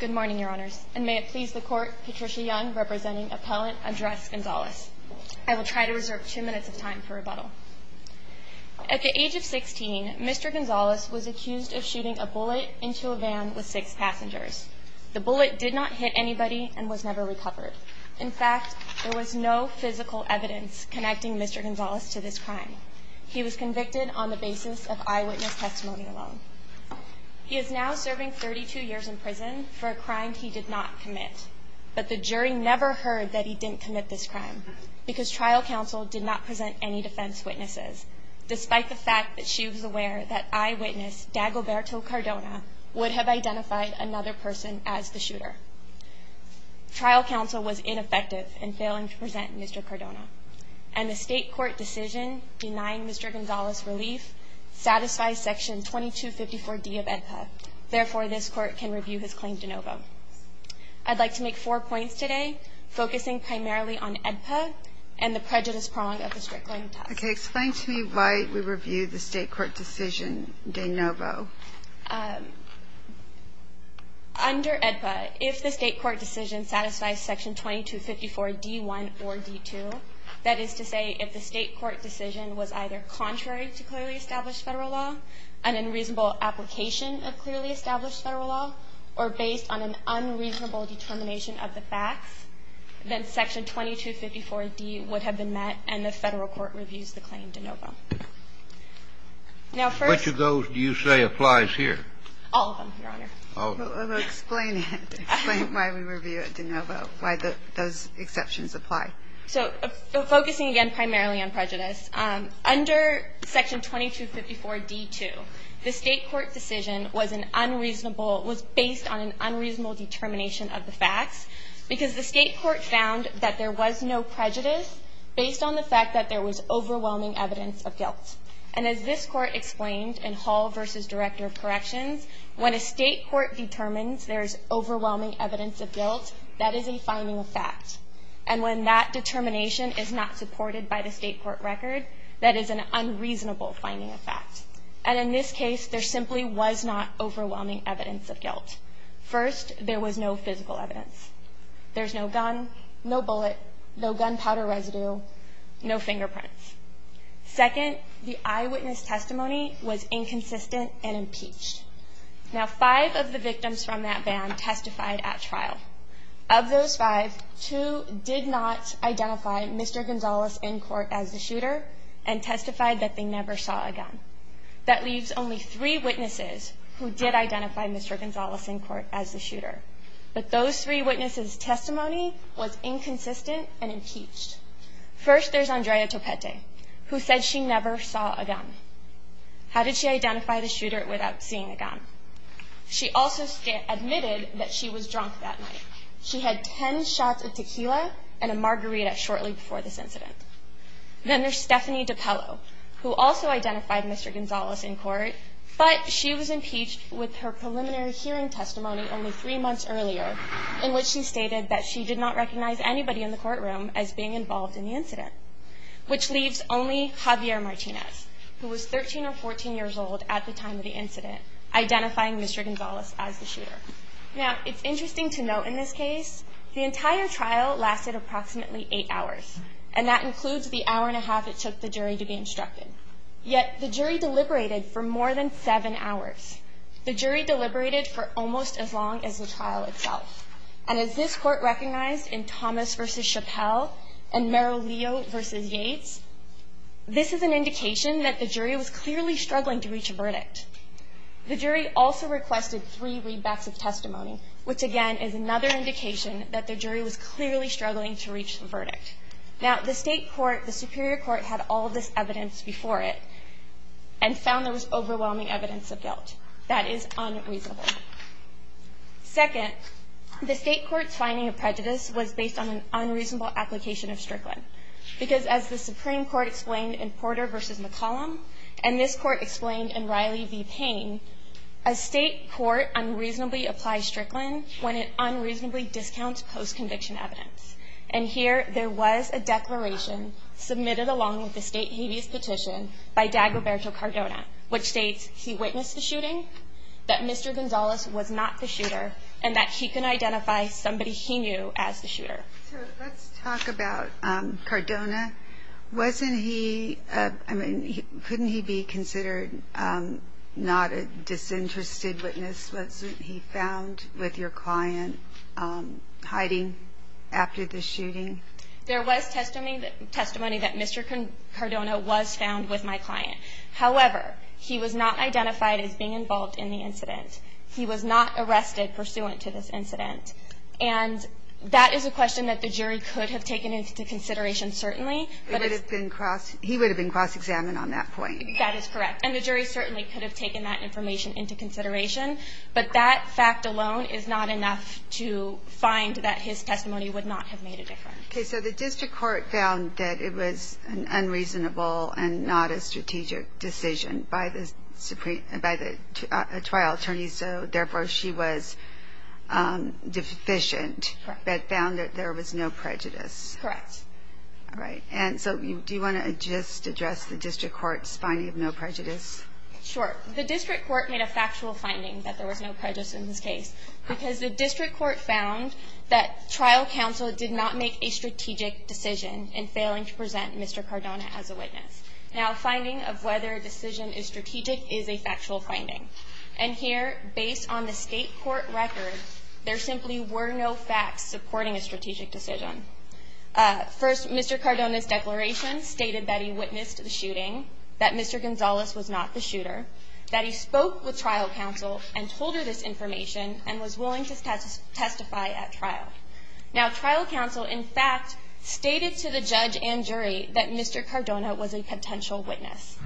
Good morning, your honors, and may it please the court, Patricia Young, representing appellant Andres Gonzalez. I will try to reserve two minutes of time for rebuttal. At the age of 16, Mr. Gonzalez was accused of shooting a bullet into a van with six passengers. The bullet did not hit anybody and was never recovered. In fact, there was no physical evidence connecting Mr. Gonzalez to this crime. He was convicted on the basis of eyewitness testimony alone. He is now serving 32 years in prison for a crime he did not commit, but the jury never heard that he didn't commit this crime because trial counsel did not present any defense witnesses, despite the fact that she was aware that eyewitness Dagoberto Cardona would have identified another person as the shooter. Trial counsel was ineffective in failing to present Mr. Cardona, and the State court decision denying Mr. Gonzalez relief satisfies Section 2254d of AEDPA. Therefore, this court can review his claim de novo. I'd like to make four points today, focusing primarily on AEDPA and the prejudice prong of the Strickland test. Okay. Explain to me why we review the State court decision de novo. Under AEDPA, if the State court decision satisfies Section 2254d1 or d2, that is to say if the State court decision was either contrary to clearly established Federal law, an unreasonable application of clearly established Federal law, or based on an unreasonable determination of the facts, then Section 2254d would have been met and the Federal court reviews the claim de novo. Now, first of all, Which of those do you say applies here? All of them, Your Honor. Explain it. Explain why we review it de novo, why those exceptions apply. So focusing again primarily on prejudice, under Section 2254d2, the State court decision was an unreasonable, was based on an unreasonable determination of the facts, because the State court found that there was no prejudice based on the fact that there was overwhelming evidence of guilt. And as this court explained in Hall v. Director of Corrections, when a State court determines there is overwhelming evidence of guilt, that is a finding of fact. And when that determination is not supported by the State court record, that is an unreasonable finding of fact. And in this case, there simply was not overwhelming evidence of guilt. First, there was no physical evidence. There's no gun, no bullet, no gunpowder residue, no fingerprints. Second, the eyewitness testimony was inconsistent and impeached. Now, five of the victims from that ban testified at trial. Of those five, two did not identify Mr. Gonzales in court as the shooter and testified that they never saw a gun. That leaves only three witnesses who did identify Mr. Gonzales in court as the shooter. But those three witnesses' testimony was inconsistent and impeached. First, there's Andrea Topete, who said she never saw a gun. How did she identify the shooter without seeing a gun? She also admitted that she was drunk that night. She had ten shots of tequila and a margarita shortly before this incident. Then there's Stephanie DiPello, who also identified Mr. Gonzales in court, but she was impeached with her preliminary hearing testimony only three months earlier in which she stated that she did not recognize anybody in the courtroom as being involved in the incident, which leaves only Javier Martinez, who was 13 or 14 years old at the time of the incident, identifying Mr. Gonzales as the shooter. Now, it's interesting to note in this case the entire trial lasted approximately eight hours, and that includes the hour and a half it took the jury to be instructed. Yet the jury deliberated for more than seven hours. The jury deliberated for almost as long as the trial itself. And as this Court recognized in Thomas v. Chappelle and Merrill Leo v. Yates, this is an indication that the jury was clearly struggling to reach a verdict. The jury also requested three readbacks of testimony, which, again, is another indication that the jury was clearly struggling to reach the verdict. Now, the state court, the superior court, had all this evidence before it and found there was overwhelming evidence of guilt. That is unreasonable. Second, the state court's finding of prejudice was based on an unreasonable application of Strickland because, as the Supreme Court explained in Porter v. McCollum and this Court explained in Riley v. Payne, a state court unreasonably applies Strickland when it unreasonably discounts post-conviction evidence. And here there was a declaration submitted along with the state habeas petition by Dag Roberto Cardona, which states he witnessed the shooting, that Mr. Gonzalez was not the shooter, and that he can identify somebody he knew as the shooter. So let's talk about Cardona. Wasn't he – I mean, couldn't he be considered not a disinterested witness? Wasn't he found with your client hiding after the shooting? There was testimony that Mr. Cardona was found with my client. However, he was not identified as being involved in the incident. He was not arrested pursuant to this incident. And that is a question that the jury could have taken into consideration, certainly. He would have been cross-examined on that point. That is correct. And the jury certainly could have taken that information into consideration. But that fact alone is not enough to find that his testimony would not have made a difference. Okay. So the district court found that it was an unreasonable and not a strategic decision by the trial attorney, so therefore she was deficient but found that there was no prejudice. Correct. All right. And so do you want to just address the district court's finding of no prejudice? Sure. The district court made a factual finding that there was no prejudice in this case because the district court found that trial counsel did not make a strategic decision in failing to present Mr. Cardona as a witness. Now, a finding of whether a decision is strategic is a factual finding. And here, based on the State court record, there simply were no facts supporting a strategic decision. First, Mr. Cardona's declaration stated that he witnessed the shooting, that Mr. Gonzalez was not the shooter, that he spoke with trial counsel and told her this information and was willing to testify at trial. Now, trial counsel, in fact, stated to the judge and jury that Mr. Cardona was a potential witness.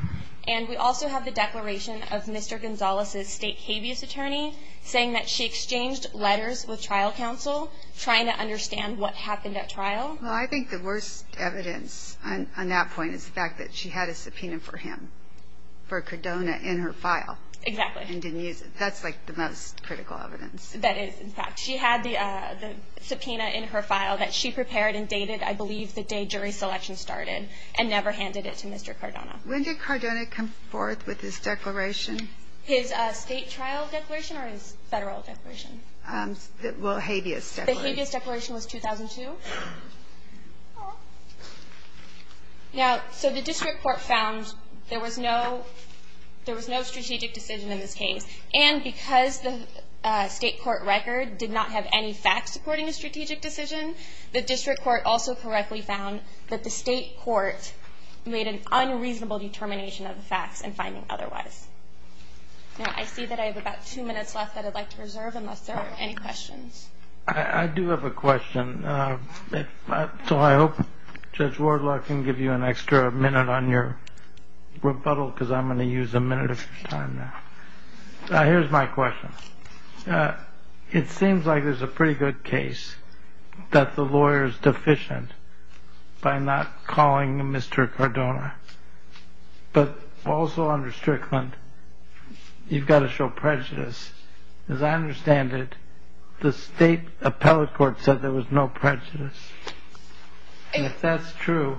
And we also have the declaration of Mr. Gonzalez's state habeas attorney saying that she exchanged letters with trial counsel trying to understand what happened at trial. Well, I think the worst evidence on that point is the fact that she had a subpoena for him, for Cardona, in her file. Exactly. And didn't use it. That's, like, the most critical evidence. That is, in fact. She had the subpoena in her file that she prepared and dated, I believe, the day jury selection started and never handed it to Mr. Cardona. When did Cardona come forth with his declaration? His state trial declaration or his Federal declaration? Well, habeas declaration. The habeas declaration was 2002. Now, so the district court found there was no strategic decision in this case. And because the state court record did not have any facts supporting a strategic decision, the district court also correctly found that the state court made an unreasonable determination of the facts and finding otherwise. Now, I see that I have about two minutes left that I'd like to reserve unless there are any questions. I do have a question, so I hope Judge Wardlaw can give you an extra minute on your rebuttal because I'm going to use a minute of your time now. Here's my question. It seems like there's a pretty good case that the lawyer is deficient by not calling Mr. Cardona, but also under Strickland you've got to show prejudice. As I understand it, the state appellate court said there was no prejudice. If that's true,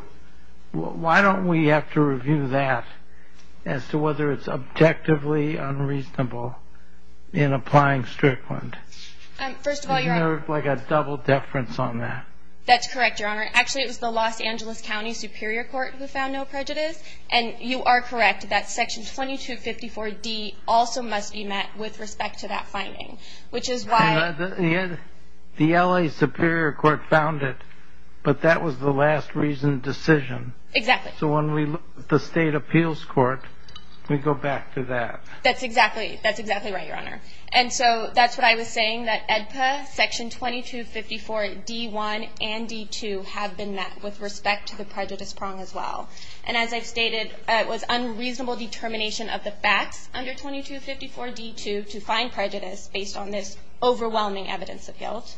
why don't we have to review that as to whether it's objectively unreasonable in applying Strickland? First of all, Your Honor. Is there like a double deference on that? That's correct, Your Honor. Actually, it was the Los Angeles County Superior Court who found no prejudice, and you are correct that Section 2254D also must be met with respect to that finding, which is why the LA Superior Court found it, but that was the last reasoned decision. Exactly. So when we look at the state appeals court, we go back to that. That's exactly right, Your Honor. And so that's what I was saying, that EDPA, Section 2254D1 and D2 have been met with respect to the prejudice prong as well. And as I've stated, it was unreasonable determination of the facts under 2254D2 to find prejudice based on this overwhelming evidence of guilt.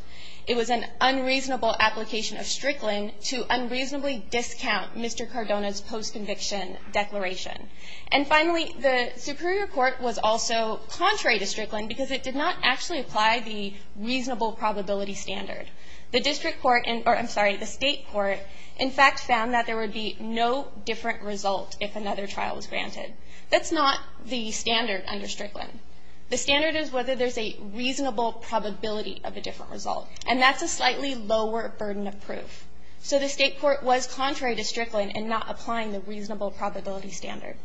It was an unreasonable application of Strickland to unreasonably discount Mr. Cardona's post-conviction declaration. And finally, the Superior Court was also contrary to Strickland because it did not actually apply the reasonable probability standard. The district court, or I'm sorry, the state court, in fact, found that there would be no different result if another trial was granted. That's not the standard under Strickland. The standard is whether there's a reasonable probability of a different result, and that's a slightly lower burden of proof. So the state court was contrary to Strickland in not applying the reasonable probability standard.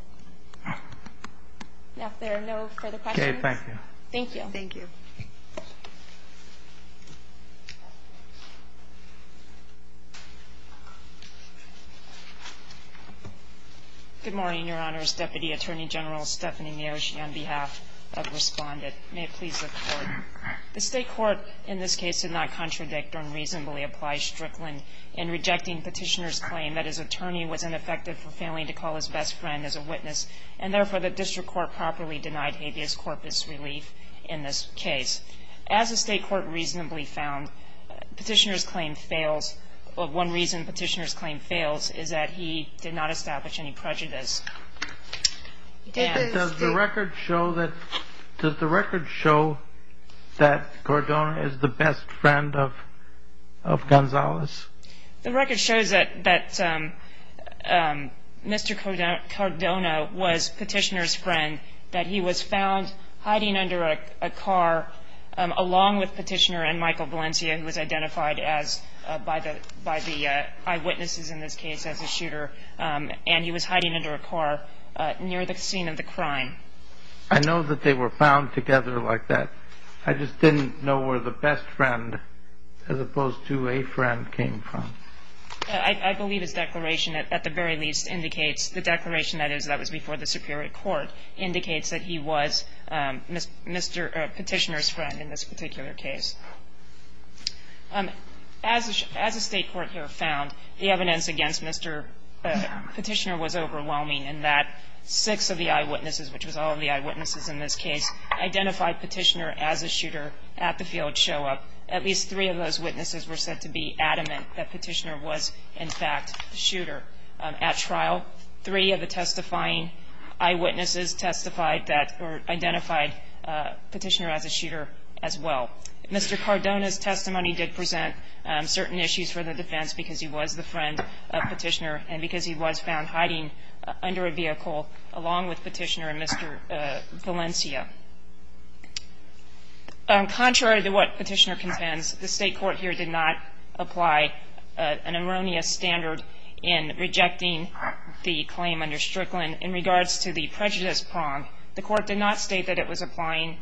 Now, if there are no further questions. Okay. Thank you. Thank you. Thank you. Good morning, Your Honors. Deputy Attorney General Stephanie Niersch, on behalf of Respondent. May it please the Court. The state court in this case did not contradict or unreasonably apply Strickland in rejecting Petitioner's claim that his attorney was ineffective for failing to call his best friend as a witness, and therefore, the district court properly denied habeas corpus relief in this case. As the state court reasonably found, Petitioner's claim fails. One reason Petitioner's claim fails is that he did not establish any prejudice. Does the record show that Cordona is the best friend of Gonzalez? The record shows that Mr. Cordona was Petitioner's friend, that he was found hiding under a car along with Petitioner and Michael Valencia, who was identified by the eyewitnesses in this case as a shooter, and he was hiding under a car near the scene of the crime. I know that they were found together like that. I just didn't know where the best friend, as opposed to a friend, came from. I believe his declaration at the very least indicates, the declaration that is that was before the Superior Court, indicates that he was Petitioner's friend in this particular case. As the state court here found, the evidence against Mr. Petitioner was overwhelming in that six of the eyewitnesses, which was all of the eyewitnesses in this case, identified Petitioner as a shooter at the field show-up. At least three of those witnesses were said to be adamant that Petitioner was, in fact, the shooter. At trial, three of the testifying eyewitnesses testified that or identified Petitioner as a shooter as well. Mr. Cardona's testimony did present certain issues for the defense because he was the friend of Petitioner and because he was found hiding under a vehicle, along with Petitioner and Mr. Valencia. Contrary to what Petitioner contends, the state court here did not apply an erroneous standard in rejecting the claim under Strickland. In regards to the prejudice prong, the Court did not state that it was applying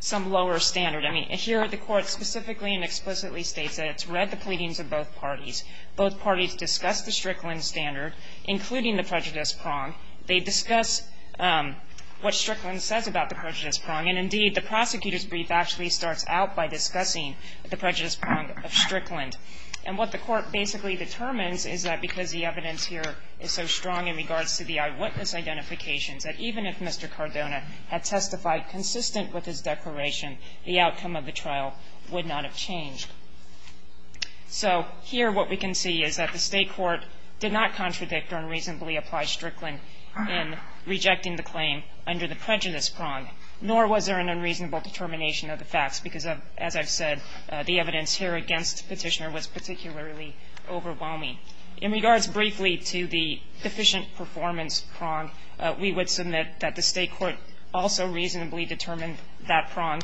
some lower standard. I mean, here the Court specifically and explicitly states that it's read the pleadings of both parties. Both parties discussed the Strickland standard, including the prejudice prong. They discuss what Strickland says about the prejudice prong. And, indeed, the prosecutor's brief actually starts out by discussing the prejudice prong of Strickland. And what the Court basically determines is that because the evidence here is so strong in regards to the eyewitness identifications, that even if Mr. Cardona had testified consistent with his declaration, the outcome of the trial would not have changed. So here what we can see is that the state court did not contradict or unreasonably apply Strickland in rejecting the claim under the prejudice prong, nor was there an unreasonable determination of the facts because, as I've said, the evidence here against Petitioner was particularly overwhelming. In regards briefly to the deficient performance prong, we would submit that the state court also reasonably determined that prong,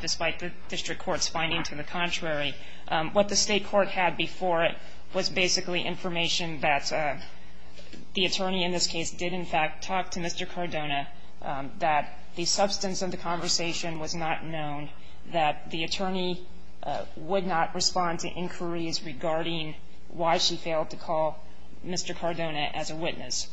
despite the district court's finding to the contrary. What the state court had before it was basically information that the attorney in this case did, in fact, talk to Mr. Cardona, that the substance of the conversation was not known, that the attorney would not respond to inquiries regarding why she failed to call Mr. Cardona as a witness.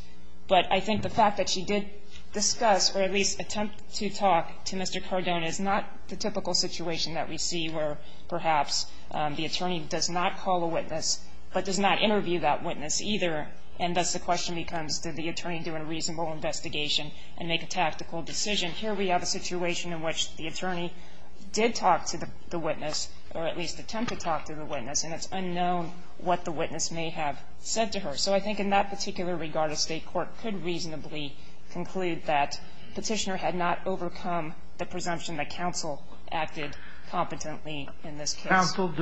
But I think the fact that she did discuss or at least attempt to talk to Mr. Cardona is not the typical situation that we see where perhaps the attorney does not call a witness but does not interview that witness either, and thus the question becomes did the attorney do a reasonable investigation and make a tactical decision. And here we have a situation in which the attorney did talk to the witness or at least attempt to talk to the witness, and it's unknown what the witness may have said to her. So I think in that particular regard, the state court could reasonably conclude that Petitioner had not overcome the presumption that counsel acted competently in this case. Counsel,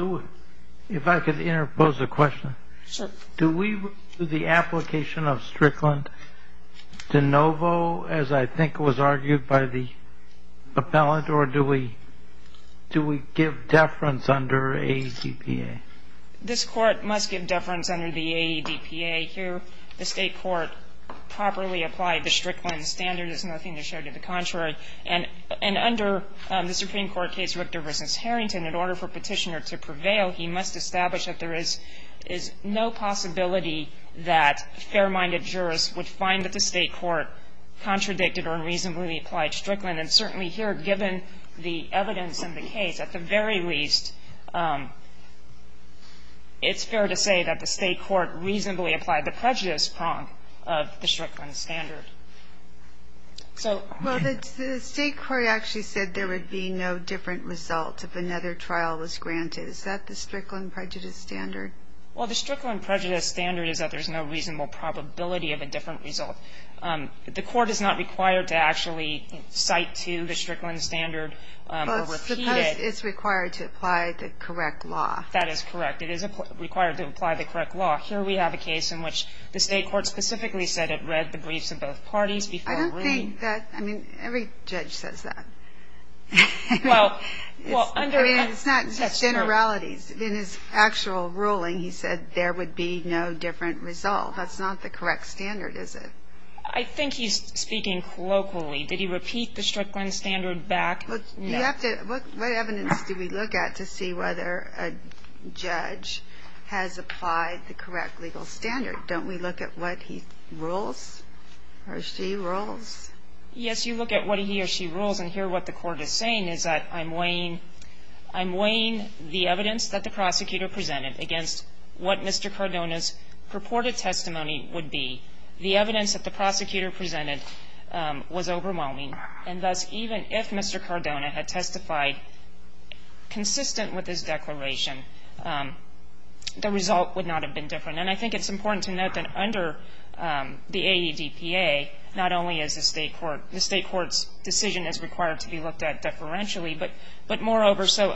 if I could interpose a question. Sure. Do we, through the application of Strickland, de novo, as I think was argued by the appellant, or do we give deference under AEBPA? This Court must give deference under the AEBPA. Here the state court properly applied the Strickland standard. There's nothing to show to the contrary. And under the Supreme Court case Richter v. Harrington, in order for Petitioner to prevail, he must establish that there is no possibility that fair-minded jurors would find that the state court contradicted or unreasonably applied Strickland. And certainly here, given the evidence in the case, at the very least, it's fair to say that the state court reasonably applied the prejudice prong of the Strickland standard. So the state court actually said there would be no different result if another trial was granted. Is that the Strickland prejudice standard? Well, the Strickland prejudice standard is that there's no reasonable probability of a different result. The Court is not required to actually cite to the Strickland standard or repeat it. But suppose it's required to apply the correct law. That is correct. It is required to apply the correct law. Here we have a case in which the state court specifically said it read the briefs of both parties before ruling. I don't think that – I mean, every judge says that. I mean, it's not just generalities. In his actual ruling, he said there would be no different result. That's not the correct standard, is it? I think he's speaking colloquially. Did he repeat the Strickland standard back? No. What evidence do we look at to see whether a judge has applied the correct legal standard? Don't we look at what he rules or she rules? Yes, you look at what he or she rules. And here what the Court is saying is that I'm weighing the evidence that the prosecutor presented against what Mr. Cardona's purported testimony would be. The evidence that the prosecutor presented was overwhelming. And thus, even if Mr. Cardona had testified consistent with his declaration, the result would not have been different. And I think it's important to note that under the AEDPA, not only is the State Court – the State Court's decision is required to be looked at deferentially, but moreover, so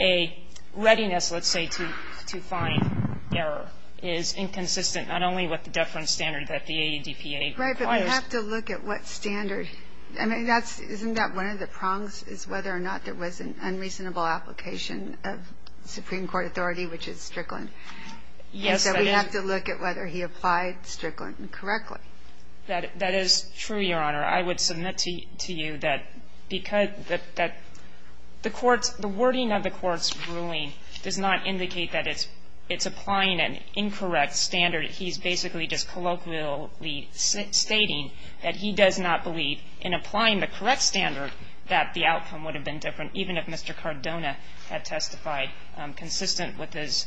a readiness, let's say, to find error is inconsistent not only with the deference standard that the AEDPA requires. Right. But we have to look at what standard – I mean, that's – isn't that one of the prongs, is whether or not there was an unreasonable application of Supreme Court authority, which is Strickland? Yes. And so we have to look at whether he applied Strickland correctly. That is true, Your Honor. I would submit to you that because – that the Court's – the wording of the Court's ruling does not indicate that it's applying an incorrect standard. He's basically just colloquially stating that he does not believe in applying the correct standard that the outcome would have been different, even if Mr. Cardona had testified consistent with his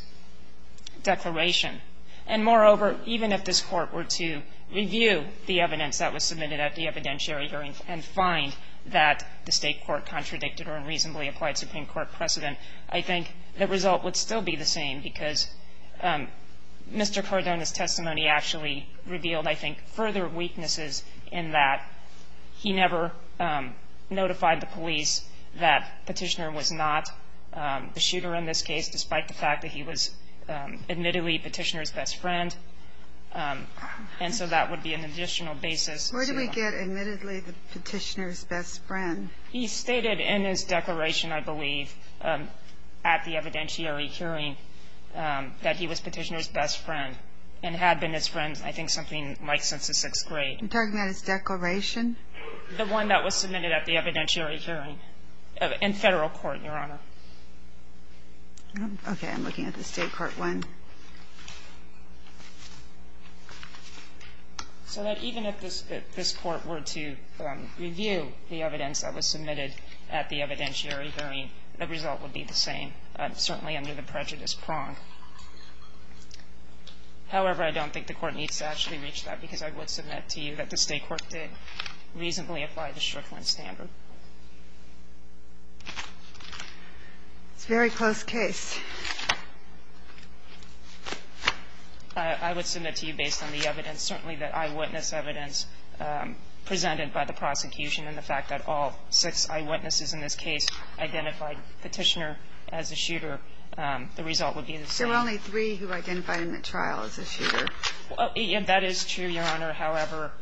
declaration. And moreover, even if this Court were to review the evidence that was submitted at the evidentiary hearing and find that the State Court contradicted or unreasonably applied Supreme Court precedent, I think the result would still be the same, because Mr. Cardona's testimony actually revealed, I think, further weaknesses in that he never notified the police that Petitioner was not the shooter in this case, despite the fact that he was admittedly Petitioner's best friend. And so that would be an additional basis. Where do we get admittedly the Petitioner's best friend? He stated in his declaration, I believe, at the evidentiary hearing that he was Petitioner's best friend and had been his friend, I think, something like since the sixth grade. You're talking about his declaration? The one that was submitted at the evidentiary hearing in Federal court, Your Honor. Okay. I'm looking at the State court one. So that even if this Court were to review the evidence that was submitted at the evidentiary hearing, the result would be the same, certainly under the prejudice prong. However, I don't think the Court needs to actually reach that, because I would submit to you that the State court did reasonably apply the Strickland standard. It's a very close case. I would submit to you, based on the evidence, certainly that eyewitness evidence presented by the prosecution and the fact that all six eyewitnesses in this case identified Petitioner as a shooter, the result would be the same. There were only three who identified him at trial as a shooter. That is true, Your Honor. However,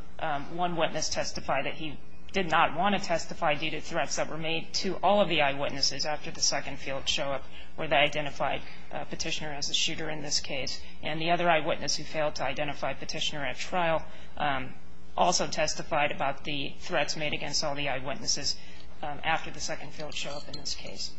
one witness testified that he did not want to testify due to threats that were made to all of the eyewitnesses after the second field show-up where they identified Petitioner as a shooter in this case. And the other eyewitness who failed to identify Petitioner at trial also testified about the threats made against all the eyewitnesses after the second field show-up in this case.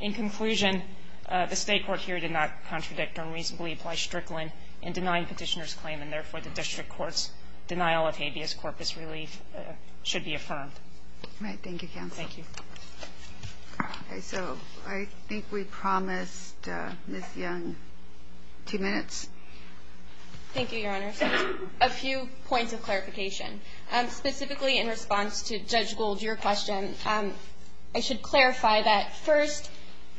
In conclusion, the State court here did not contradict or reasonably apply Strickland in denying Petitioner's claim, and therefore, the district court's denial of habeas corpus relief should be affirmed. All right. Thank you, counsel. Thank you. Okay. So I think we promised Ms. Young two minutes. Thank you, Your Honor. A few points of clarification. Specifically in response to Judge Gould, your question, I should clarify that, first,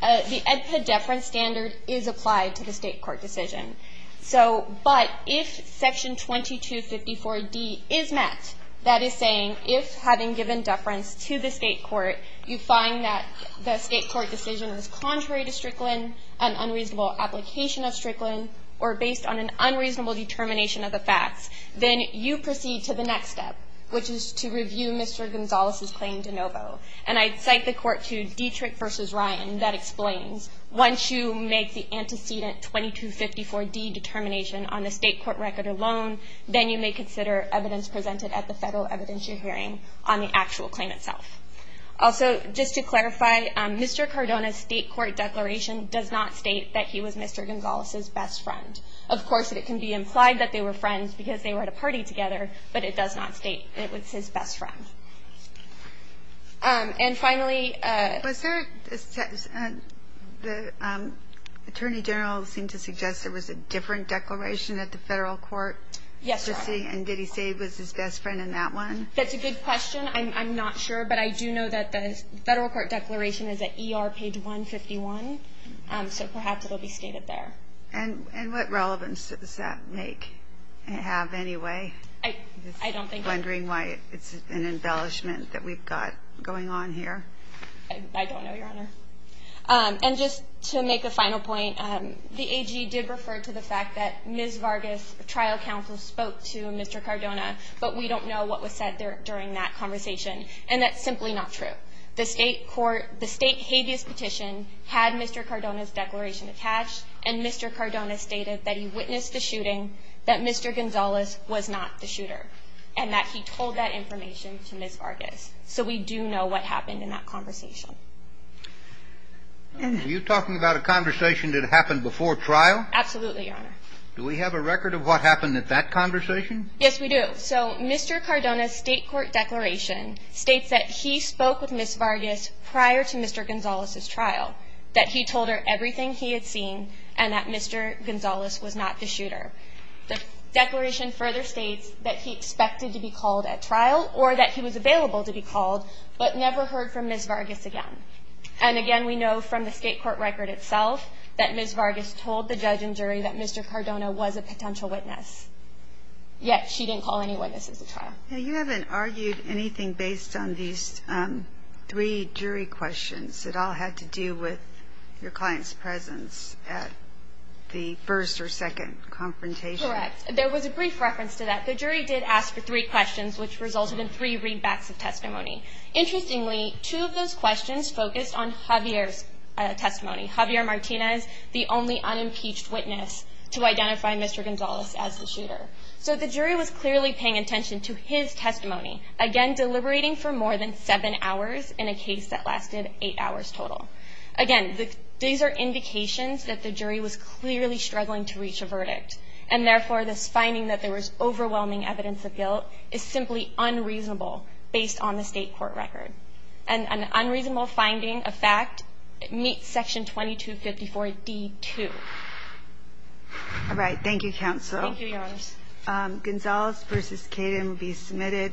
the EDPA deference standard is applied to the State court decision. But if Section 2254D is met, that is saying if, having given deference to the State court, you find that the State court decision is contrary to Strickland, an unreasonable application of Strickland, or based on an unreasonable determination of the facts, then you proceed to the next step, which is to review Mr. Gonzales' claim de novo. And I'd cite the court to Dietrich v. Ryan that explains, once you make the antecedent 2254D determination on the State court record alone, then you may consider evidence presented at the federal evidentiary hearing on the actual claim itself. Also, just to clarify, Mr. Cardona's State court declaration does not state that he was Mr. Gonzales' best friend. Of course, it can be implied that they were friends because they were at a party together, but it does not state that it was his best friend. And finally ---- Was there a ---- the Attorney General seemed to suggest there was a different declaration at the federal court? Yes, Your Honor. And did he say he was his best friend in that one? That's a good question. I'm not sure. But I do know that the federal court declaration is at ER page 151. So perhaps it will be stated there. And what relevance does that make, have anyway? I don't think so. I'm just wondering why it's an embellishment that we've got going on here. I don't know, Your Honor. And just to make a final point, the AG did refer to the fact that Ms. Vargas, the trial counsel, spoke to Mr. Cardona, but we don't know what was said during that conversation. And that's simply not true. Absolutely, Your Honor. Do we have a record of what happened at that conversation? Yes, we do. So Mr. Cardona's state court declaration states that he spoke with Ms. Vargas prior to Mr. Gonzalez's trial, that he told her everything he had seen Are you talking about a conversation that happened before trial? Absolutely, Your Honor. And that Mr. Gonzalez was not the shooter. The declaration further states that he expected to be called at trial or that he was available to be called, but never heard from Ms. Vargas again. And again, we know from the state court record itself that Ms. Vargas told the judge and jury that Mr. Cardona was a potential witness, yet she didn't call any witnesses at trial. Now, you haven't argued anything based on these three jury questions. It all had to do with your client's presence at the first or second confrontation. Correct. There was a brief reference to that. The jury did ask for three questions, which resulted in three readbacks of testimony. Interestingly, two of those questions focused on Javier's testimony. Javier Martinez, the only unimpeached witness to identify Mr. Gonzalez as the shooter. So the jury was clearly paying attention to his testimony, again, deliberating for more than seven hours in a case that lasted eight hours total. Again, these are indications that the jury was clearly struggling to reach a verdict. And, therefore, this finding that there was overwhelming evidence of guilt is simply unreasonable based on the state court record. And an unreasonable finding, a fact, meets Section 2254D2. All right. Thank you, Counsel. Thank you, Your Honor. Gonzalez v. Caden will be submitted.